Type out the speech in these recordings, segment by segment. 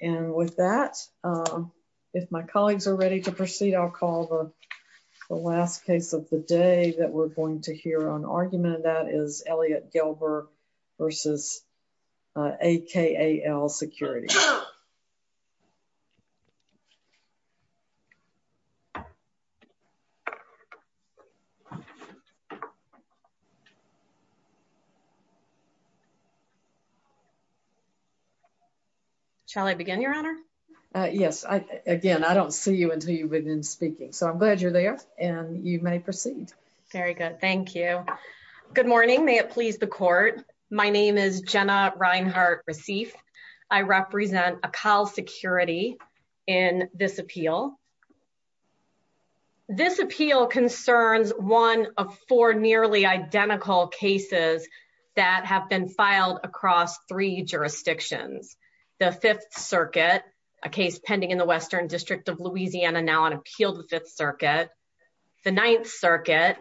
And with that, if my colleagues are ready to proceed, I'll call the last case of the day that we're going to hear on argument that is Elliot Gelber versus AKAL Security. Shall I begin, Your Honor? Yes. Again, I don't see you until you've been speaking, so I'm glad you're there and you may proceed. Very good. Thank you. Good morning. May it please the court. My name is Jenna Reinhart-Receiff. I represent AKAL Security in this appeal. This appeal concerns one of four nearly identical cases that have been filed across three jurisdictions. The Fifth Circuit, a case pending in the Western District of Louisiana, now on appeal to the Fifth Circuit. The Ninth Circuit,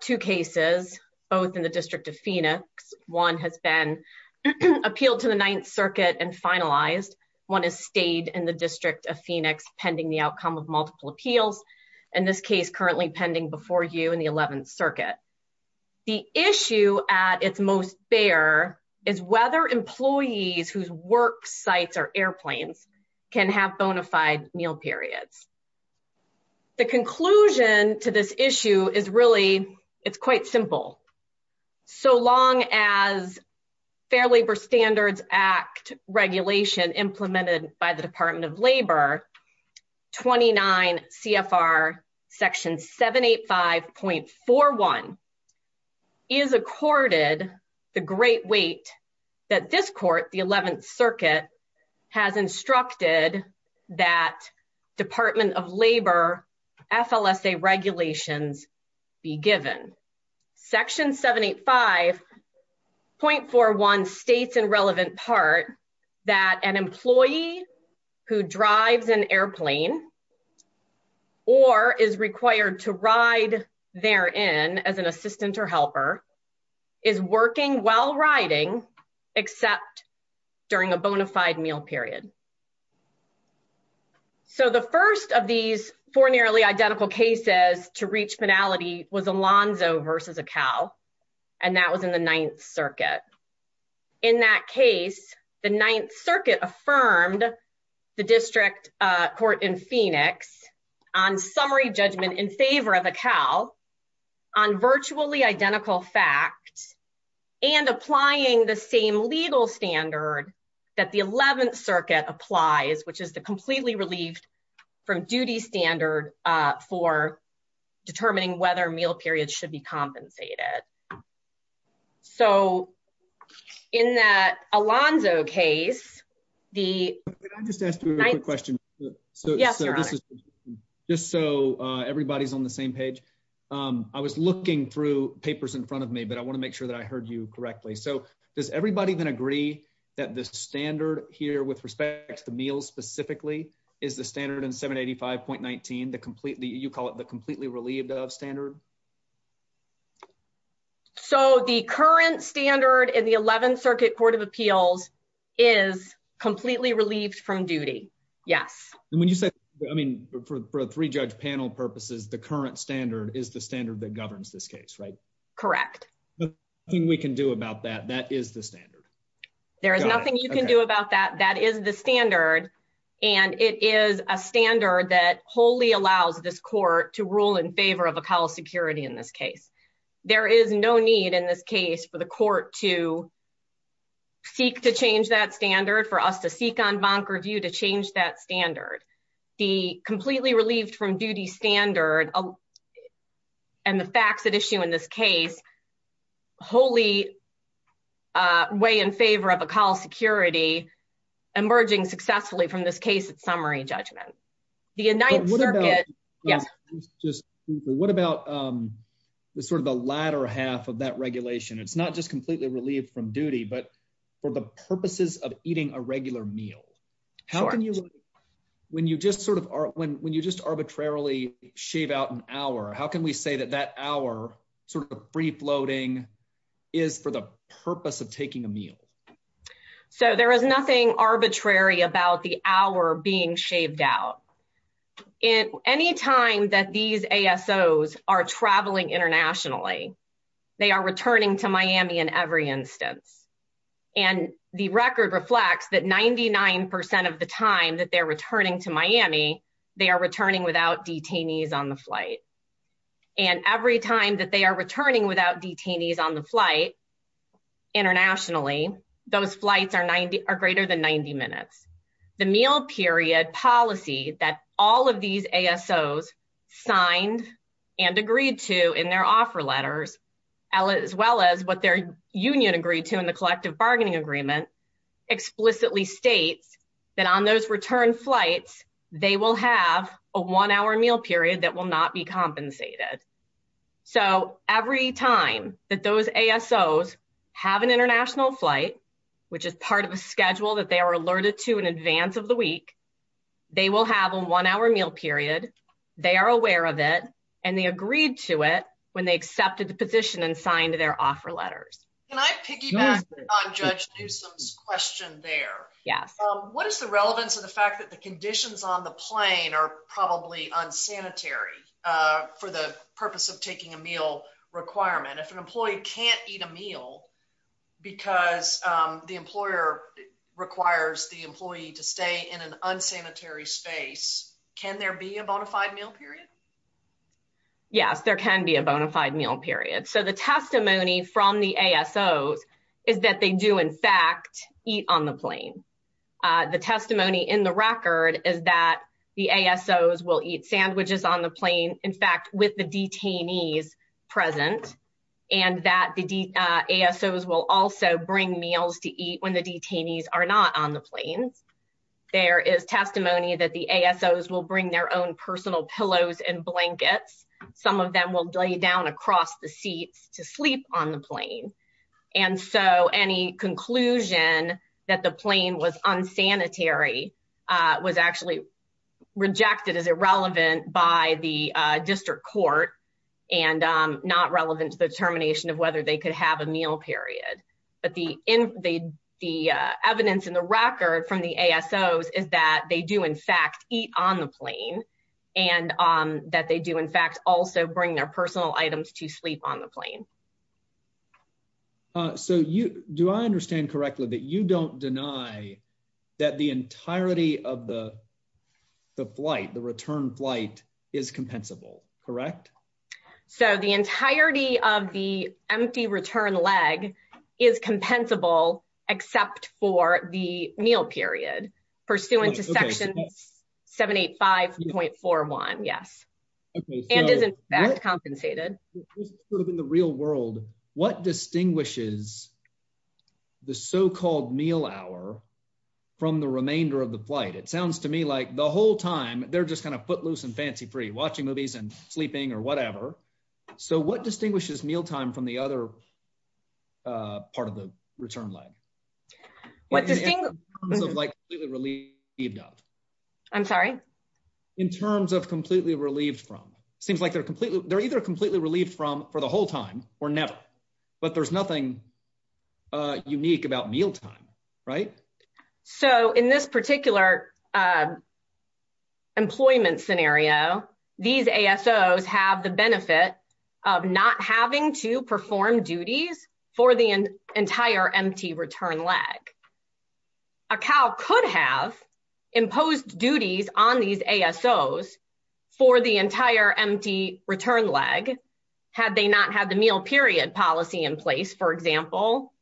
two cases, both in the District of Phoenix. One has been appealed to the Ninth Circuit and finalized. One has stayed in the District of Phoenix pending the outcome of multiple appeals. And this case currently pending before you in the Eleventh Circuit. The issue at its most bare is whether employees whose work sites are airplanes can have bona fide meal periods. The conclusion to this issue is really, it's quite simple. So long as Fair Labor Standards Act regulation implemented by the Department of Labor, 29 CFR Section 785.41 is accorded the great weight that this court, the Eleventh Circuit, has instructed that Department of Labor FLSA regulations be given. Section 785.41 states in relevant part that an employee who drives an airplane or is required to ride therein as an assistant or helper is working while riding except during a bona fide meal period. So the first of these four nearly identical cases to reach penalty was Alonzo versus Acal, and that was in the Ninth Circuit. In that case, the Ninth Circuit affirmed the District Court in Phoenix on summary judgment in favor of Acal on virtually identical facts and applying the same legal standard that the Eleventh Circuit applies, which is the completely relieved from duty standard for determining whether meal periods should be compensated. So in that Alonzo case, the… Can I just ask you a quick question? Yes, Your Honor. Just so everybody's on the same page. I was looking through papers in front of me, but I want to make sure that I heard you correctly. So does everybody then agree that the standard here with respect to meals specifically is the standard in 785.19, the completely, you call it the completely relieved of standard? So the current standard in the Eleventh Circuit Court of Appeals is completely relieved from duty. Yes. And when you say, I mean, for a three-judge panel purposes, the current standard is the standard that governs this case, right? Correct. There's nothing we can do about that. That is the standard. There is nothing you can do about that. That is the standard, and it is a standard that wholly allows this court to rule in favor of Acal's security in this case. There is no need in this case for the court to seek to change that standard, for us to seek on bonk review to change that standard. The completely relieved from duty standard and the facts at issue in this case wholly weigh in favor of Acal's security emerging successfully from this case at summary judgment. What about the sort of the latter half of that regulation? It's not just completely relieved from duty, but for the purposes of eating a regular meal. When you just arbitrarily shave out an hour, how can we say that that hour sort of free-floating is for the purpose of taking a meal? So there is nothing arbitrary about the hour being shaved out. Any time that these ASOs are traveling internationally, they are returning to Miami in every instance. And the record reflects that 99% of the time that they're returning to Miami, they are returning without detainees on the flight. And every time that they are returning without detainees on the flight internationally, those flights are greater than 90 minutes. The meal period policy that all of these ASOs signed and agreed to in their offer letters, as well as what their union agreed to in the collective bargaining agreement, explicitly states that on those return flights, they will have a one-hour meal period that will not be compensated. So every time that those ASOs have an international flight, which is part of a schedule that they are alerted to in advance of the week, they will have a one-hour meal period, they are aware of it, and they agreed to it when they accepted the position and signed their offer letters. Can I piggyback on Judge Newsom's question there? What is the relevance of the fact that the conditions on the plane are probably unsanitary for the purpose of taking a meal requirement? If an employee can't eat a meal because the employer requires the employee to stay in an unsanitary space, can there be a bona fide meal period? Yes, there can be a bona fide meal period. So the testimony from the ASOs is that they do, in fact, eat on the plane. The testimony in the record is that the ASOs will eat sandwiches on the plane, in fact, with the detainees present, and that the ASOs will also bring meals to eat when the detainees are not on the plane. There is testimony that the ASOs will bring their own personal pillows and blankets. Some of them will lay down across the seats to sleep on the plane. And so any conclusion that the plane was unsanitary was actually rejected as irrelevant by the district court and not relevant to the determination of whether they could have a meal period. But the evidence in the record from the ASOs is that they do, in fact, eat on the plane, and that they do, in fact, also bring their personal items to sleep on the plane. So do I understand correctly that you don't deny that the entirety of the flight, the return flight, is compensable, correct? So the entirety of the empty return leg is compensable except for the meal period, pursuant to Section 785.41, yes. And is, in fact, compensated. In the real world, what distinguishes the so-called meal hour from the remainder of the flight? It sounds to me like the whole time they're just kind of footloose and fancy-free, watching movies and sleeping or whatever. So what distinguishes meal time from the other part of the return leg? What distinguishes? In terms of completely relieved from. I'm sorry? In terms of completely relieved from. It seems like they're either completely relieved from for the whole time or never. But there's nothing unique about meal time, right? So in this particular employment scenario, these ASOs have the benefit of not having to perform duties for the entire empty return leg. A CAL could have imposed duties on these ASOs for the entire empty return leg, had they not had the meal period policy in place, for example.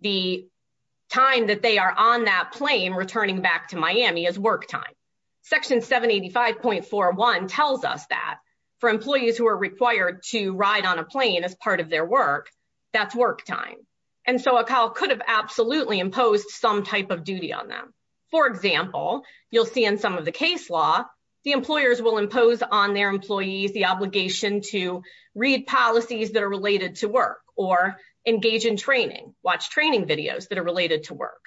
The time that they are on that plane returning back to Miami is work time. Section 785.41 tells us that for employees who are required to ride on a plane as part of their work, that's work time. And so a CAL could have absolutely imposed some type of duty on them. For example, you'll see in some of the case law, the employers will impose on their employees the obligation to read policies that are related to work or engage in training, watch training videos that are related to work.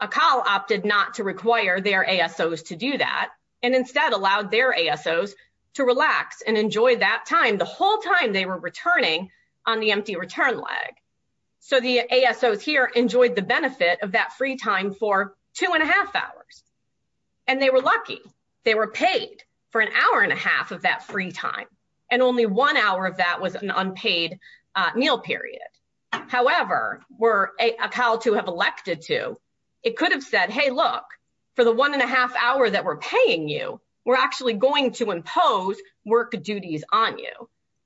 A CAL opted not to require their ASOs to do that and instead allowed their ASOs to relax and enjoy that time the whole time they were returning on the empty return leg. So the ASOs here enjoyed the benefit of that free time for two and a half hours. And they were lucky. They were paid for an hour and a half of that free time. And only one hour of that was an unpaid meal period. However, were a CAL to have elected to, it could have said, hey, look, for the one and a half hour that we're paying you, we're actually going to impose work duties on you.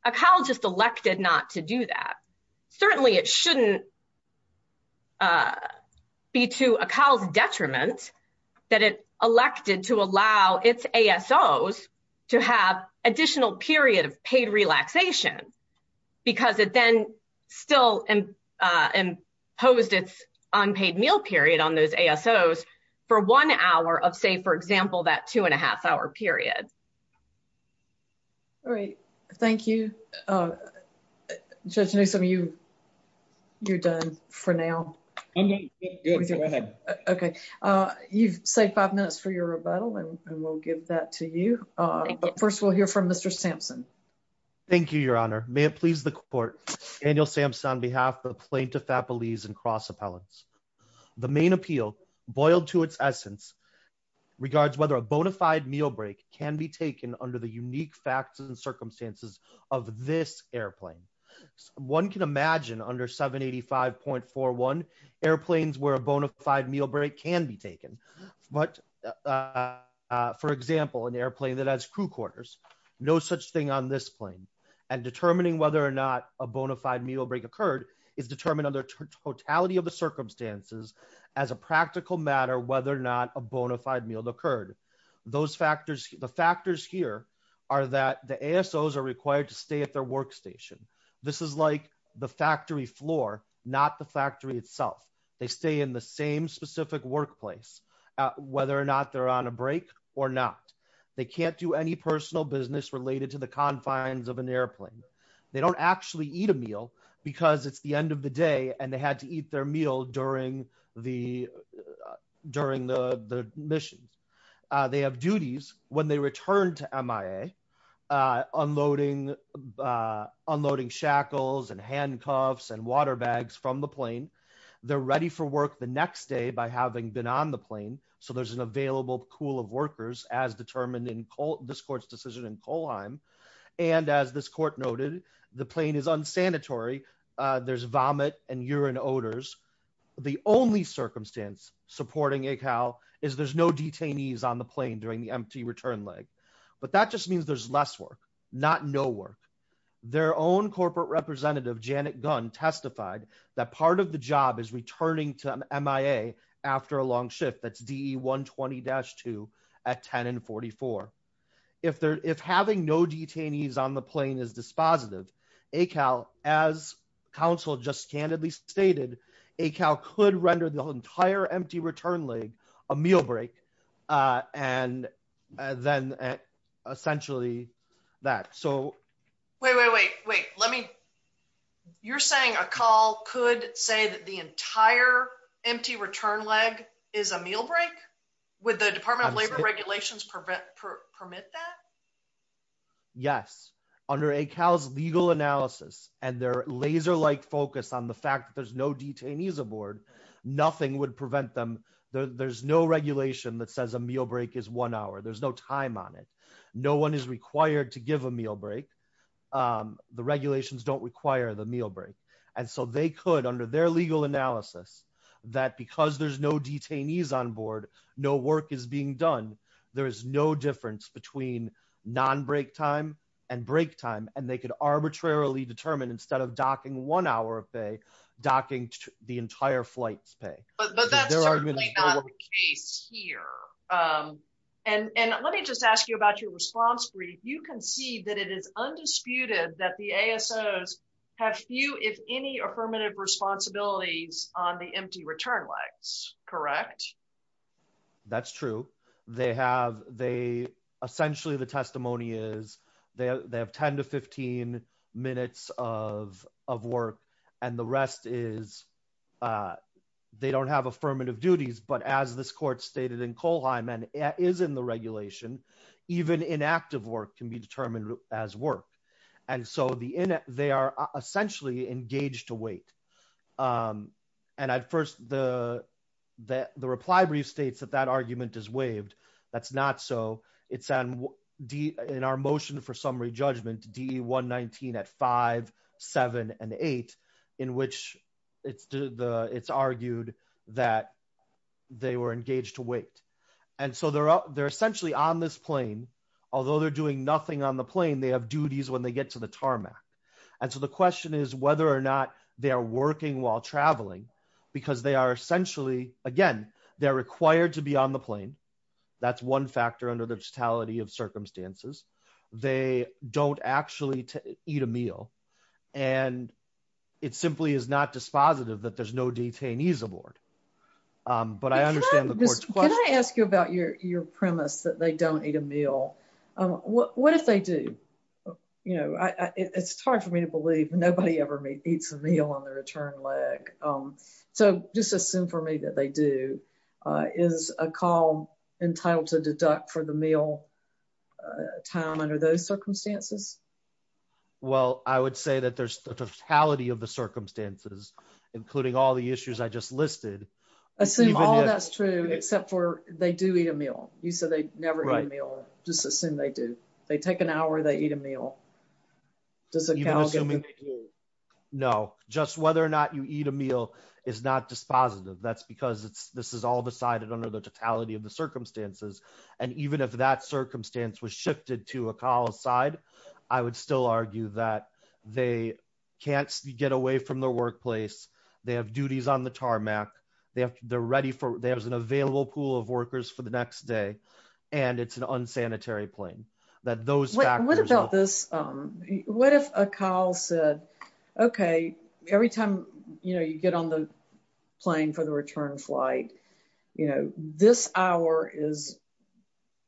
A CAL just elected not to do that. Certainly, it shouldn't be to a CAL's detriment that it elected to allow its ASOs to have additional period of paid relaxation because it then still imposed its unpaid meal period on those ASOs for one hour of, say, for example, that two and a half hour period. All right. Thank you. Judge Newsome, you're done for now. I'm done. Good. Go ahead. Okay. You've saved five minutes for your rebuttal, and we'll give that to you. First, we'll hear from Mr. Sampson. Thank you, Your Honor. May it please the court. Daniel Sampson on behalf of Plaintiff Appellees and Cross Appellants. The main appeal, boiled to its essence, regards whether a bona fide meal break can be taken under the unique facts and circumstances of this airplane. One can imagine under 785.41, airplanes where a bona fide meal break can be taken. But, for example, an airplane that has crew quarters, no such thing on this plane. And determining whether or not a bona fide meal break occurred is determined under totality of the circumstances as a practical matter whether or not a bona fide meal occurred. The factors here are that the ASOs are required to stay at their workstation. This is like the factory floor, not the factory itself. They stay in the same specific workplace, whether or not they're on a break or not. They can't do any personal business related to the confines of an airplane. They don't actually eat a meal because it's the end of the day and they had to eat their meal during the mission. They have duties when they return to MIA, unloading shackles and handcuffs and water bags from the plane. They're ready for work the next day by having been on the plane. So there's an available pool of workers as determined in this court's decision in Kohlheim. And as this court noted, the plane is unsanitary. There's vomit and urine odors. The only circumstance supporting ACAL is there's no detainees on the plane during the empty return leg. But that just means there's less work, not no work. Their own corporate representative, Janet Gunn, testified that part of the job is returning to MIA after a long shift. That's DE 120-2 at 10 and 44. If having no detainees on the plane is dispositive, ACAL, as counsel just candidly stated, ACAL could render the entire empty return leg a meal break. And then essentially that. Wait, wait, wait. You're saying ACAL could say that the entire empty return leg is a meal break? Would the Department of Labor regulations permit that? Yes. Under ACAL's legal analysis and their laser-like focus on the fact that there's no detainees aboard, nothing would prevent them. There's no regulation that says a meal break is one hour. There's no time on it. No one is required to give a meal break. The regulations don't require the meal break. And so they could, under their legal analysis, that because there's no detainees on board, no work is being done. There is no difference between non-break time and break time. And they could arbitrarily determine, instead of docking one hour of pay, docking the entire flight's pay. But that's certainly not the case here. And let me just ask you about your response brief. You concede that it is undisputed that the ASOs have few, if any, affirmative responsibilities on the empty return legs, correct? That's true. Essentially, the testimony is they have 10 to 15 minutes of work, and the rest is they don't have affirmative duties. But as this court stated in Kohlheim and is in the regulation, even inactive work can be determined as work. And so they are essentially engaged to wait. And at first, the reply brief states that that argument is waived. That's not so. In our motion for summary judgment, DE 119 at 5, 7, and 8, in which it's argued that they were engaged to wait. And so they're essentially on this plane. Although they're doing nothing on the plane, they have duties when they get to the tarmac. And so the question is whether or not they are working while traveling, because they are essentially, again, they're required to be on the plane. That's one factor under the totality of circumstances. They don't actually eat a meal. And it simply is not dispositive that there's no detainees aboard. But I understand the court's question. Can I ask you about your premise that they don't eat a meal? What if they do? You know, it's hard for me to believe nobody ever eats a meal on the return leg. So just assume for me that they do. Is a call entitled to deduct for the meal time under those circumstances? Well, I would say that there's the totality of the circumstances, including all the issues I just listed. Assume all that's true, except for they do eat a meal. You said they never eat a meal. Just assume they do. They take an hour, they eat a meal. Does it count? No, just whether or not you eat a meal is not dispositive. That's because this is all decided under the totality of the circumstances. And even if that circumstance was shifted to a call aside, I would still argue that they can't get away from the workplace. They have duties on the tarmac. They're ready for there's an available pool of workers for the next day. And it's an unsanitary plane that those. What about this? What if a call said, OK, every time you get on the plane for the return flight, you know, this hour is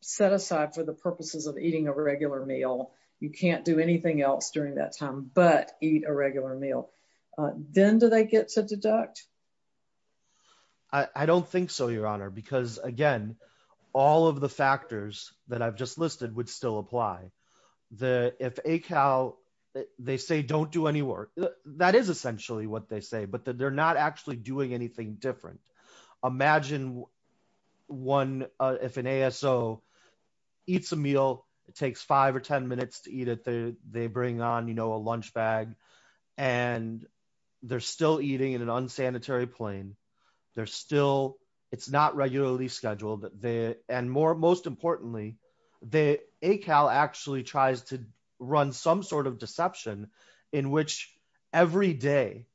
set aside for the purposes of eating a regular meal. You can't do anything else during that time, but eat a regular meal. Then do they get to deduct? I don't think so, Your Honor, because, again, all of the factors that I've just listed would still apply. The if a cow, they say, don't do any work. That is essentially what they say. But they're not actually doing anything different. Imagine one if an ASO eats a meal. It takes five or 10 minutes to eat it. They bring on, you know, a lunch bag and they're still eating in an unsanitary plane. They're still it's not regularly scheduled. And more most importantly, they a cow actually tries to run some sort of deception in which every day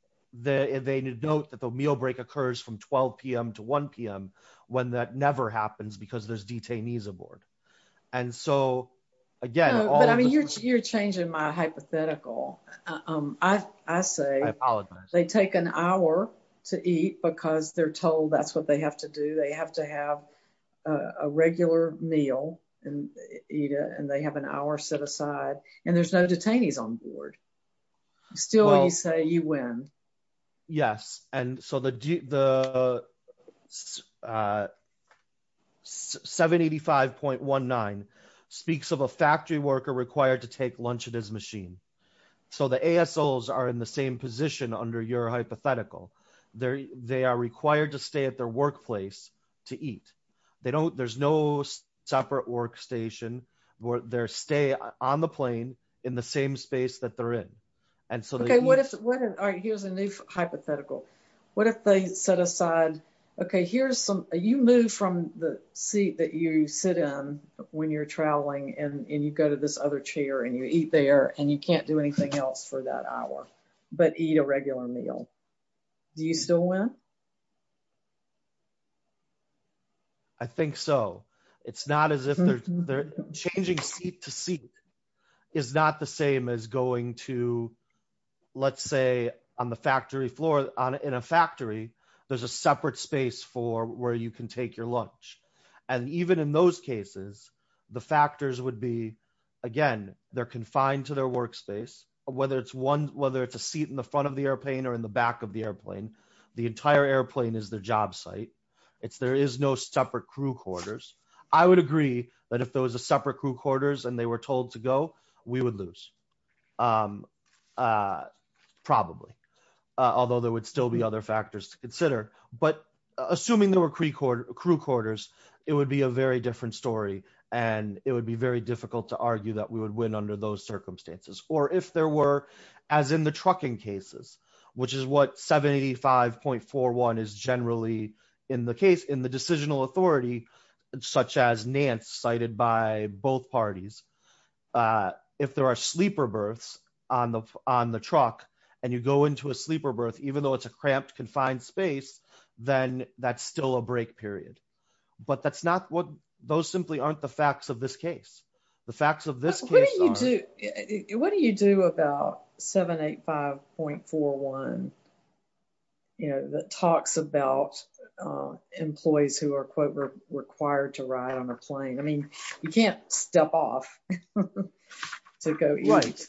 that they note that the meal break occurs from 12 p.m. to 1 p.m. When that never happens because there's detainees aboard. And so, again, I mean, you're changing my hypothetical. I say I apologize. They take an hour to eat because they're told that's what they have to do. They have to have a regular meal and eat it. And they have an hour set aside and there's no detainees on board. Still, you say you win. Yes. And so the 785.19 speaks of a factory worker required to take lunch at his machine. So the ASOs are in the same position under your hypothetical there. They are required to stay at their workplace to eat. They don't. There's no separate workstation where their stay on the plane in the same space that they're in. All right. Here's a new hypothetical. What if they set aside. OK, here's some you move from the seat that you sit in when you're traveling and you go to this other chair and you eat there and you can't do anything else for that hour but eat a regular meal. Do you still win? I think so. It's not as if they're changing seat to seat is not the same as going to, let's say, on the factory floor in a factory. There's a separate space for where you can take your lunch. And even in those cases, the factors would be, again, they're confined to their workspace, whether it's one, whether it's a seat in the front of the airplane or in the back of the airplane. The entire airplane is their job site. It's there is no separate crew quarters. I would agree that if there was a separate crew quarters and they were told to go, we would lose. Probably, although there would still be other factors to consider. But assuming there were crew quarters, it would be a very different story and it would be very difficult to argue that we would win under those circumstances. Or if there were, as in the trucking cases, which is what 75.41 is generally in the case in the decisional authority, such as Nance cited by both parties. If there are sleeper berths on the truck and you go into a sleeper berth, even though it's a cramped, confined space, then that's still a break period. But that's not what those simply aren't the facts of this case. The facts of this case are. What do you do about 785.41 that talks about employees who are quote required to ride on a plane? I mean, you can't step off to go eat.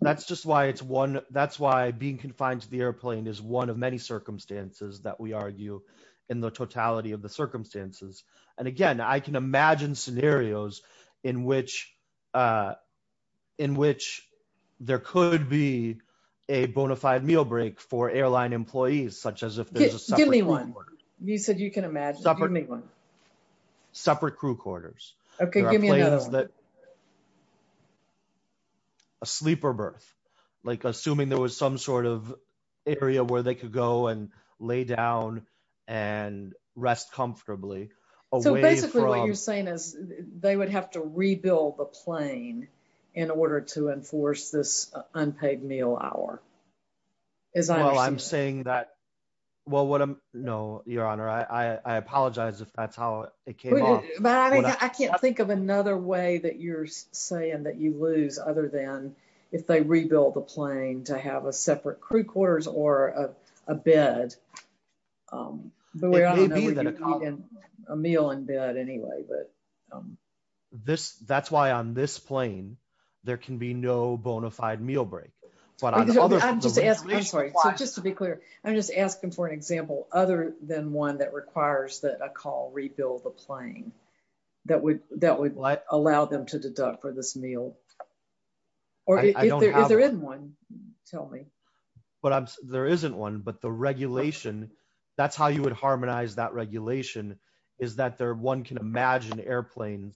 That's just why it's one. That's why being confined to the airplane is one of many circumstances that we argue in the totality of the circumstances. And again, I can imagine scenarios in which there could be a bona fide meal break for airline employees, such as if there's a separate one. You said you can imagine. Separate crew quarters. OK, give me that. A sleeper berth, like assuming there was some sort of area where they could go and lay down and rest comfortably. So basically what you're saying is they would have to rebuild the plane in order to enforce this unpaid meal hour. As I know, I'm saying that. Well, what I know, Your Honor, I apologize if that's how it came about. I can't think of another way that you're saying that you lose other than if they rebuild the plane to have a separate crew quarters or a bed. But we're going to call in a meal in bed anyway. That's why on this plane, there can be no bona fide meal break. Just to be clear, I'm just asking for an example other than one that requires that a call rebuild the plane that would allow them to deduct for this meal. Or if there isn't one, tell me. There isn't one, but the regulation, that's how you would harmonize that regulation, is that one can imagine airplanes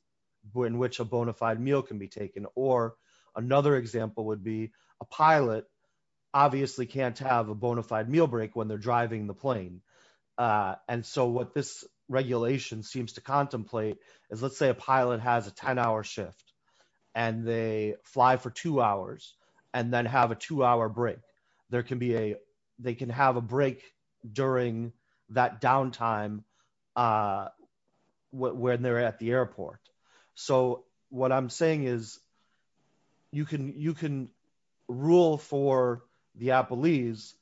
in which a bona fide meal can be taken. Or another example would be a pilot obviously can't have a bona fide meal break when they're driving the plane. And so what this regulation seems to contemplate is let's say a pilot has a 10-hour shift and they fly for two hours and then have a two-hour break. They can have a break during that downtime when they're at the airport. So what I'm saying is you can rule for the Appleese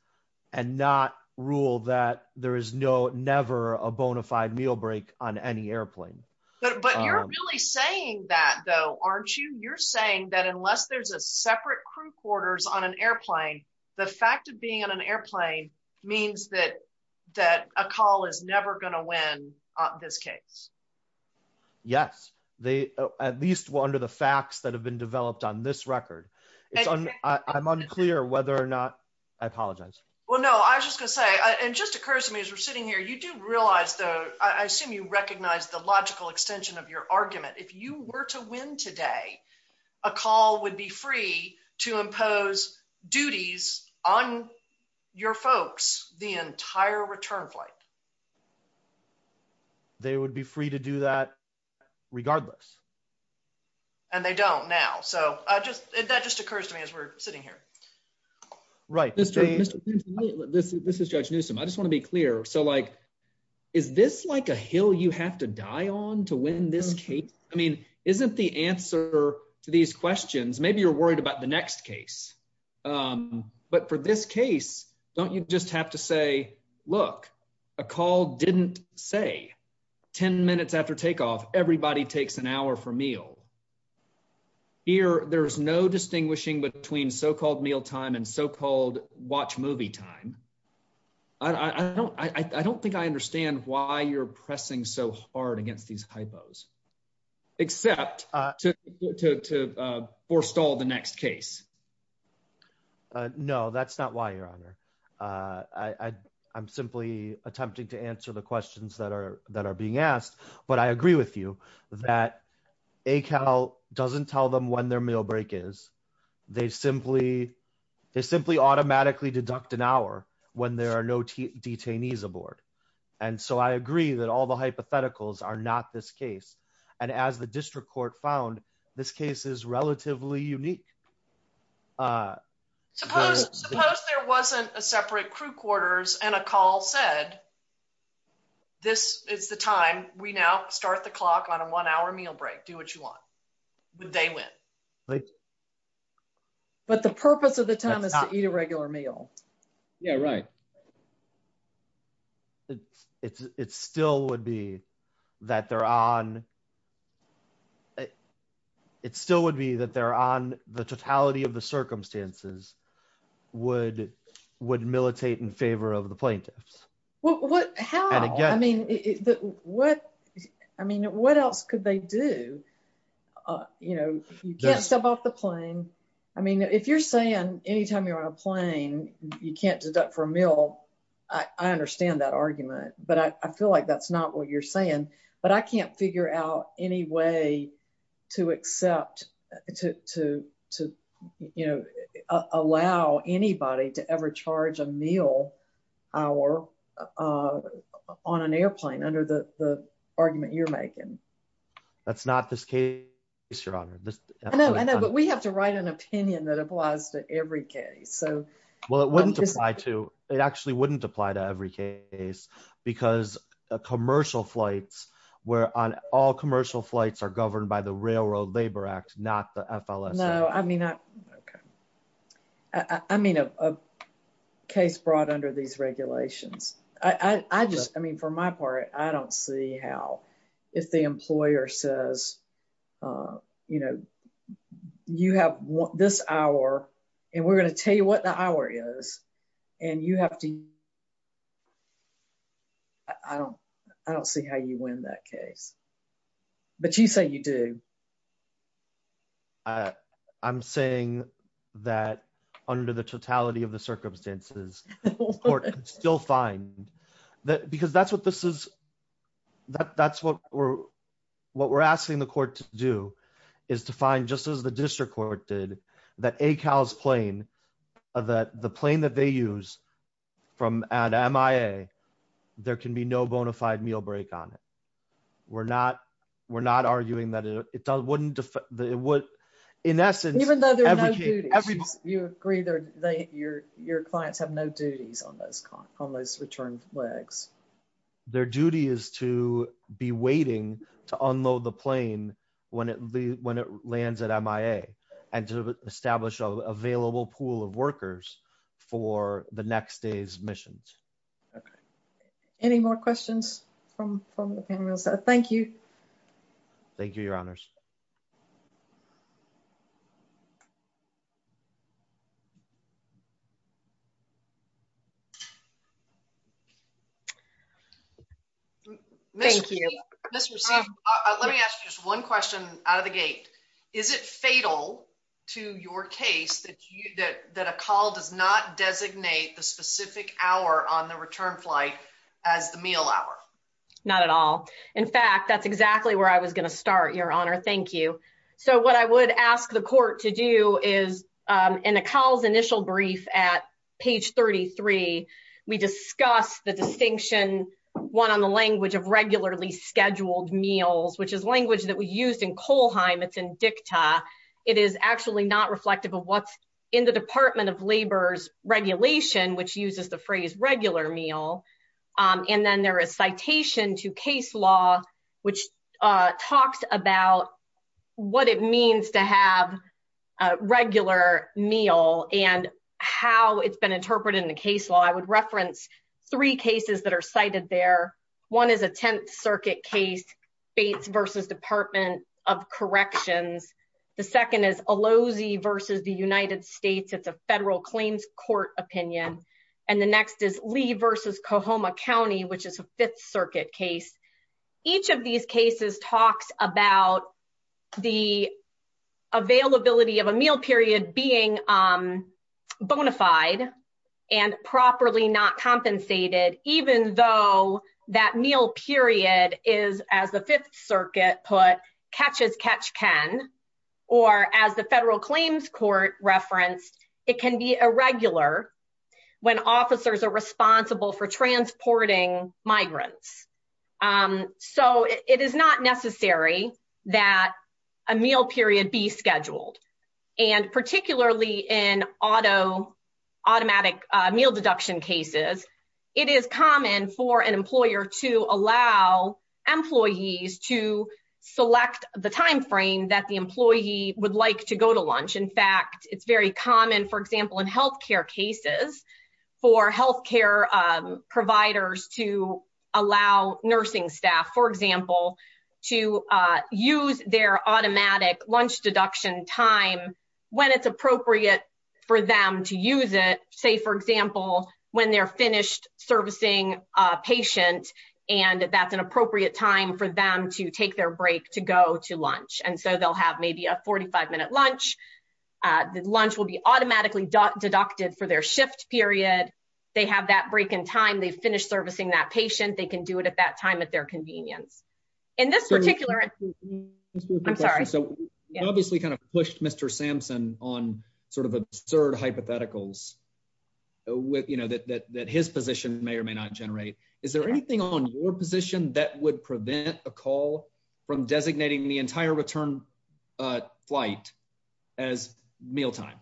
and not rule that there is never a bona fide meal break on any airplane. But you're really saying that though, aren't you? You're saying that unless there's a separate crew quarters on an airplane, the fact of being on an airplane means that a call is never going to win this case. Yes, at least under the facts that have been developed on this record. I'm unclear whether or not, I apologize. Well, no, I was just going to say, and just a curse to me as we're sitting here, you do realize though, I assume you recognize the logical extension of your argument. If you were to win today, a call would be free to impose duties on your folks the entire return flight. They would be free to do that regardless. And they don't now. So that just occurs to me as we're sitting here. This is Judge Newsom. I just want to be clear. So like, is this like a hill you have to die on to win this case? I mean, isn't the answer to these questions, maybe you're worried about the next case. But for this case, don't you just have to say, look, a call didn't say 10 minutes after takeoff, everybody takes an hour for meal. Here, there's no distinguishing between so-called meal time and so-called watch movie time. I don't think I understand why you're pressing so hard against these hypos, except to forestall the next case. No, that's not why, Your Honor. I'm simply attempting to answer the questions that are being asked. But I agree with you that a call doesn't tell them when their meal break is. They simply automatically deduct an hour when there are no detainees aboard. And so I agree that all the hypotheticals are not this case. And as the district court found, this case is relatively unique. Suppose there wasn't a separate crew quarters and a call said, this is the time, we now start the clock on a one-hour meal break, do what you want. Would they win? But the purpose of the time is to eat a regular meal. Yeah, right. It still would be that they're on the totality of the circumstances would militate in favor of the plaintiffs. How? I mean, what else could they do? You can't step off the plane. I mean, if you're saying anytime you're on a plane, you can't deduct for a meal. I understand that argument, but I feel like that's not what you're saying. But I can't figure out any way to allow anybody to ever charge a meal hour on an airplane under the argument you're making. That's not this case, Your Honor. I know, but we have to write an opinion that applies to every case. Well, it actually wouldn't apply to every case because commercial flights, all commercial flights are governed by the Railroad Labor Act, not the FLSA. No, I mean, a case brought under these regulations. I just, I mean, for my part, I don't see how if the employer says, you know, you have this hour and we're going to tell you what the hour is and you have to. I don't see how you win that case. But you say you do. I'm saying that under the totality of the circumstances, the court can still find that because that's what this is. That's what we're asking the court to do is to find, just as the district court did, that ACAL's plane, the plane that they use at MIA, there can be no bona fide meal break on it. We're not, we're not arguing that it wouldn't, in essence. Even though there are no duties, you agree that your clients have no duties on those returned flights. Their duty is to be waiting to unload the plane when it lands at MIA and to establish an available pool of workers for the next day's missions. Any more questions from the panelists? Thank you. Thank you, your honors. Thank you. Let me ask you just one question out of the gate. Is it fatal to your case that you that that ACAL does not designate the specific hour on the return flight as the meal hour? Not at all. In fact, that's exactly where I was going to start your honor. Thank you. So what I would ask the court to do is in ACAL's initial brief at page 33, we discuss the distinction, one on the language of regularly scheduled meals, which is language that we used in Kohlheim. It's in dicta. It is actually not reflective of what's in the Department of Labor's regulation, which uses the phrase regular meal. And then there is citation to case law, which talks about what it means to have a regular meal and how it's been interpreted in the case law. I would reference three cases that are cited there. One is a Tenth Circuit case, Bates versus Department of Corrections. The second is Alozi versus the United States. It's a federal claims court opinion. And the next is Lee versus Coahoma County, which is a Fifth Circuit case. Each of these cases talks about the availability of a meal period being bona fide and properly not compensated, even though that meal period is, as the Fifth Circuit put, catch as catch can. Or as the federal claims court referenced, it can be irregular when officers are responsible for transporting migrants. So it is not necessary that a meal period be scheduled. And particularly in automatic meal deduction cases, it is common for an employer to allow employees to select the timeframe that the employee would like to go to lunch. In fact, it's very common, for example, in health care cases for health care providers to allow nursing staff, for example, to use their automatic lunch deduction time when it's appropriate for them to use it. Say, for example, when they're finished servicing a patient and that's an appropriate time for them to take their break to go to lunch. And so they'll have maybe a 45 minute lunch. The lunch will be automatically deducted for their shift period. They have that break in time. They finish servicing that patient. They can do it at that time at their convenience. In this particular, I'm sorry. So you obviously kind of pushed Mr. Sampson on sort of absurd hypotheticals that his position may or may not generate. Is there anything on your position that would prevent a call from designating the entire return flight as mealtime?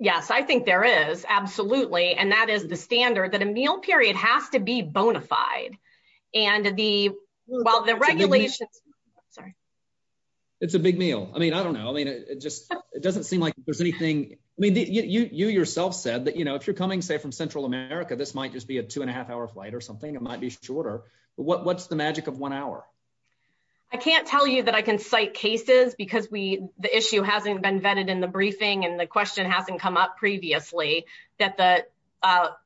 Yes, I think there is. Absolutely. And that is the standard that a meal period has to be bona fide. And the while the regulations. It's a big meal. I mean, I don't know. I mean, it just it doesn't seem like there's anything. I mean, you yourself said that, you know, if you're coming, say, from Central America, this might just be a two and a half hour flight or something. It might be shorter. What's the magic of one hour? I can't tell you that I can cite cases because we the issue hasn't been vetted in the briefing and the question hasn't come up previously that the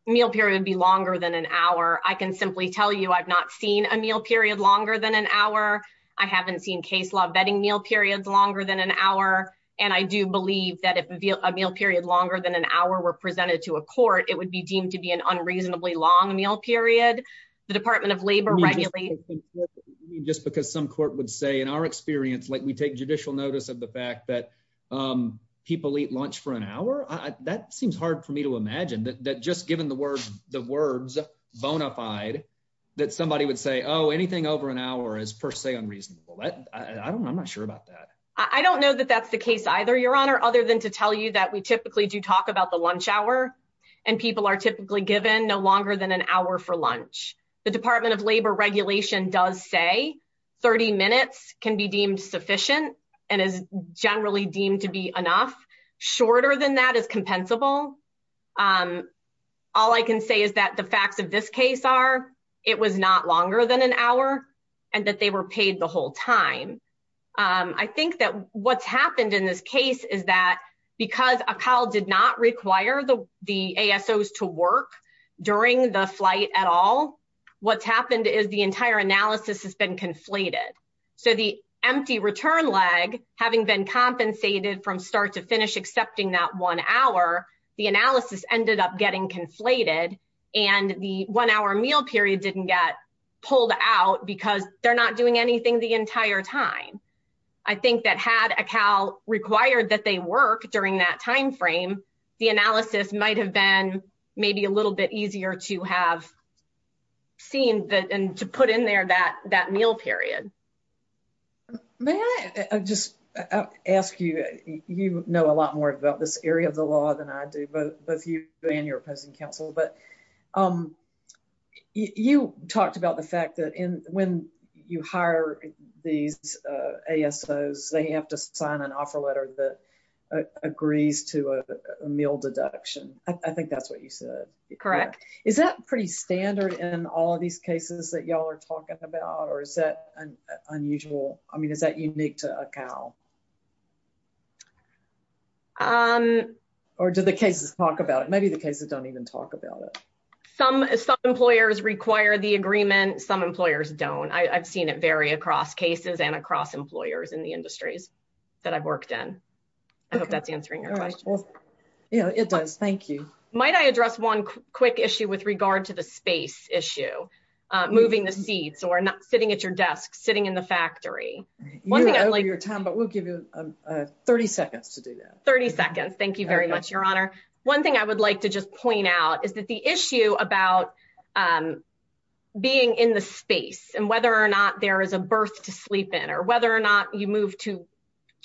meal period would be longer than an hour. I can simply tell you I've not seen a meal period longer than an hour. I haven't seen case law vetting meal periods longer than an hour. And I do believe that if a meal period longer than an hour were presented to a court, it would be deemed to be an unreasonably long meal period. The Department of Labor regularly. Just because some court would say, in our experience, like we take judicial notice of the fact that people eat lunch for an hour. That seems hard for me to imagine that just given the words, the words bona fide that somebody would say, oh, anything over an hour is per se unreasonable. I don't I'm not sure about that. I don't know that that's the case either, Your Honor, other than to tell you that we typically do talk about the lunch hour. And people are typically given no longer than an hour for lunch. The Department of Labor regulation does say 30 minutes can be deemed sufficient and is generally deemed to be enough. Shorter than that is compensable. All I can say is that the facts of this case are it was not longer than an hour and that they were paid the whole time. I think that what's happened in this case is that because a call did not require the ASOs to work during the flight at all. What's happened is the entire analysis has been conflated. So the empty return leg, having been compensated from start to finish, accepting that one hour, the analysis ended up getting conflated. And the one hour meal period didn't get pulled out because they're not doing anything the entire time. I think that had a CAL required that they work during that time frame, the analysis might have been maybe a little bit easier to have seen that and to put in there that that meal period. May I just ask you, you know a lot more about this area of the law than I do, both you and your opposing counsel, but you talked about the fact that when you hire these ASOs, they have to sign an offer letter that agrees to a meal deduction. I think that's what you said. Correct. Is that pretty standard in all of these cases that y'all are talking about or is that unusual? I mean, is that unique to a CAL? Or do the cases talk about it? Maybe the cases don't even talk about it. Some employers require the agreement, some employers don't. I've seen it vary across cases and across employers in the industries that I've worked in. I hope that's answering your question. Yeah, it does. Thank you. Might I address one quick issue with regard to the space issue, moving the seats or not sitting at your desk, sitting in the factory? You're over your time, but we'll give you 30 seconds to do that. 30 seconds. Thank you very much, Your Honor. One thing I would like to just point out is that the issue about being in the space and whether or not there is a berth to sleep in or whether or not you move to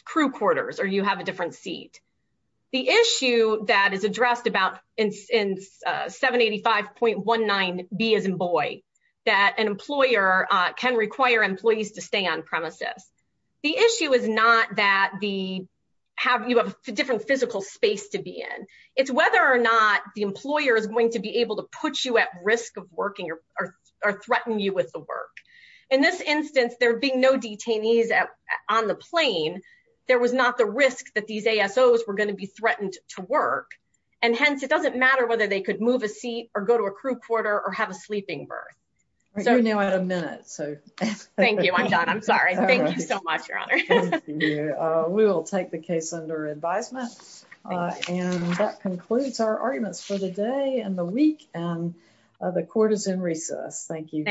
crew quarters or you have a different seat. The issue that is addressed in 785.19B as in Boyd, that an employer can require employees to stay on premises. The issue is not that you have a different physical space to be in. It's whether or not the employer is going to be able to put you at risk of working or threaten you with the work. In this instance, there being no detainees on the plane, there was not the risk that these ASOs were going to be threatened to work. And hence, it doesn't matter whether they could move a seat or go to a crew quarter or have a sleeping berth. You're now at a minute. Thank you. I'm done. I'm sorry. Thank you so much, Your Honor. We will take the case under advisement. And that concludes our arguments for the day and the week. And the court is in recess. Thank you.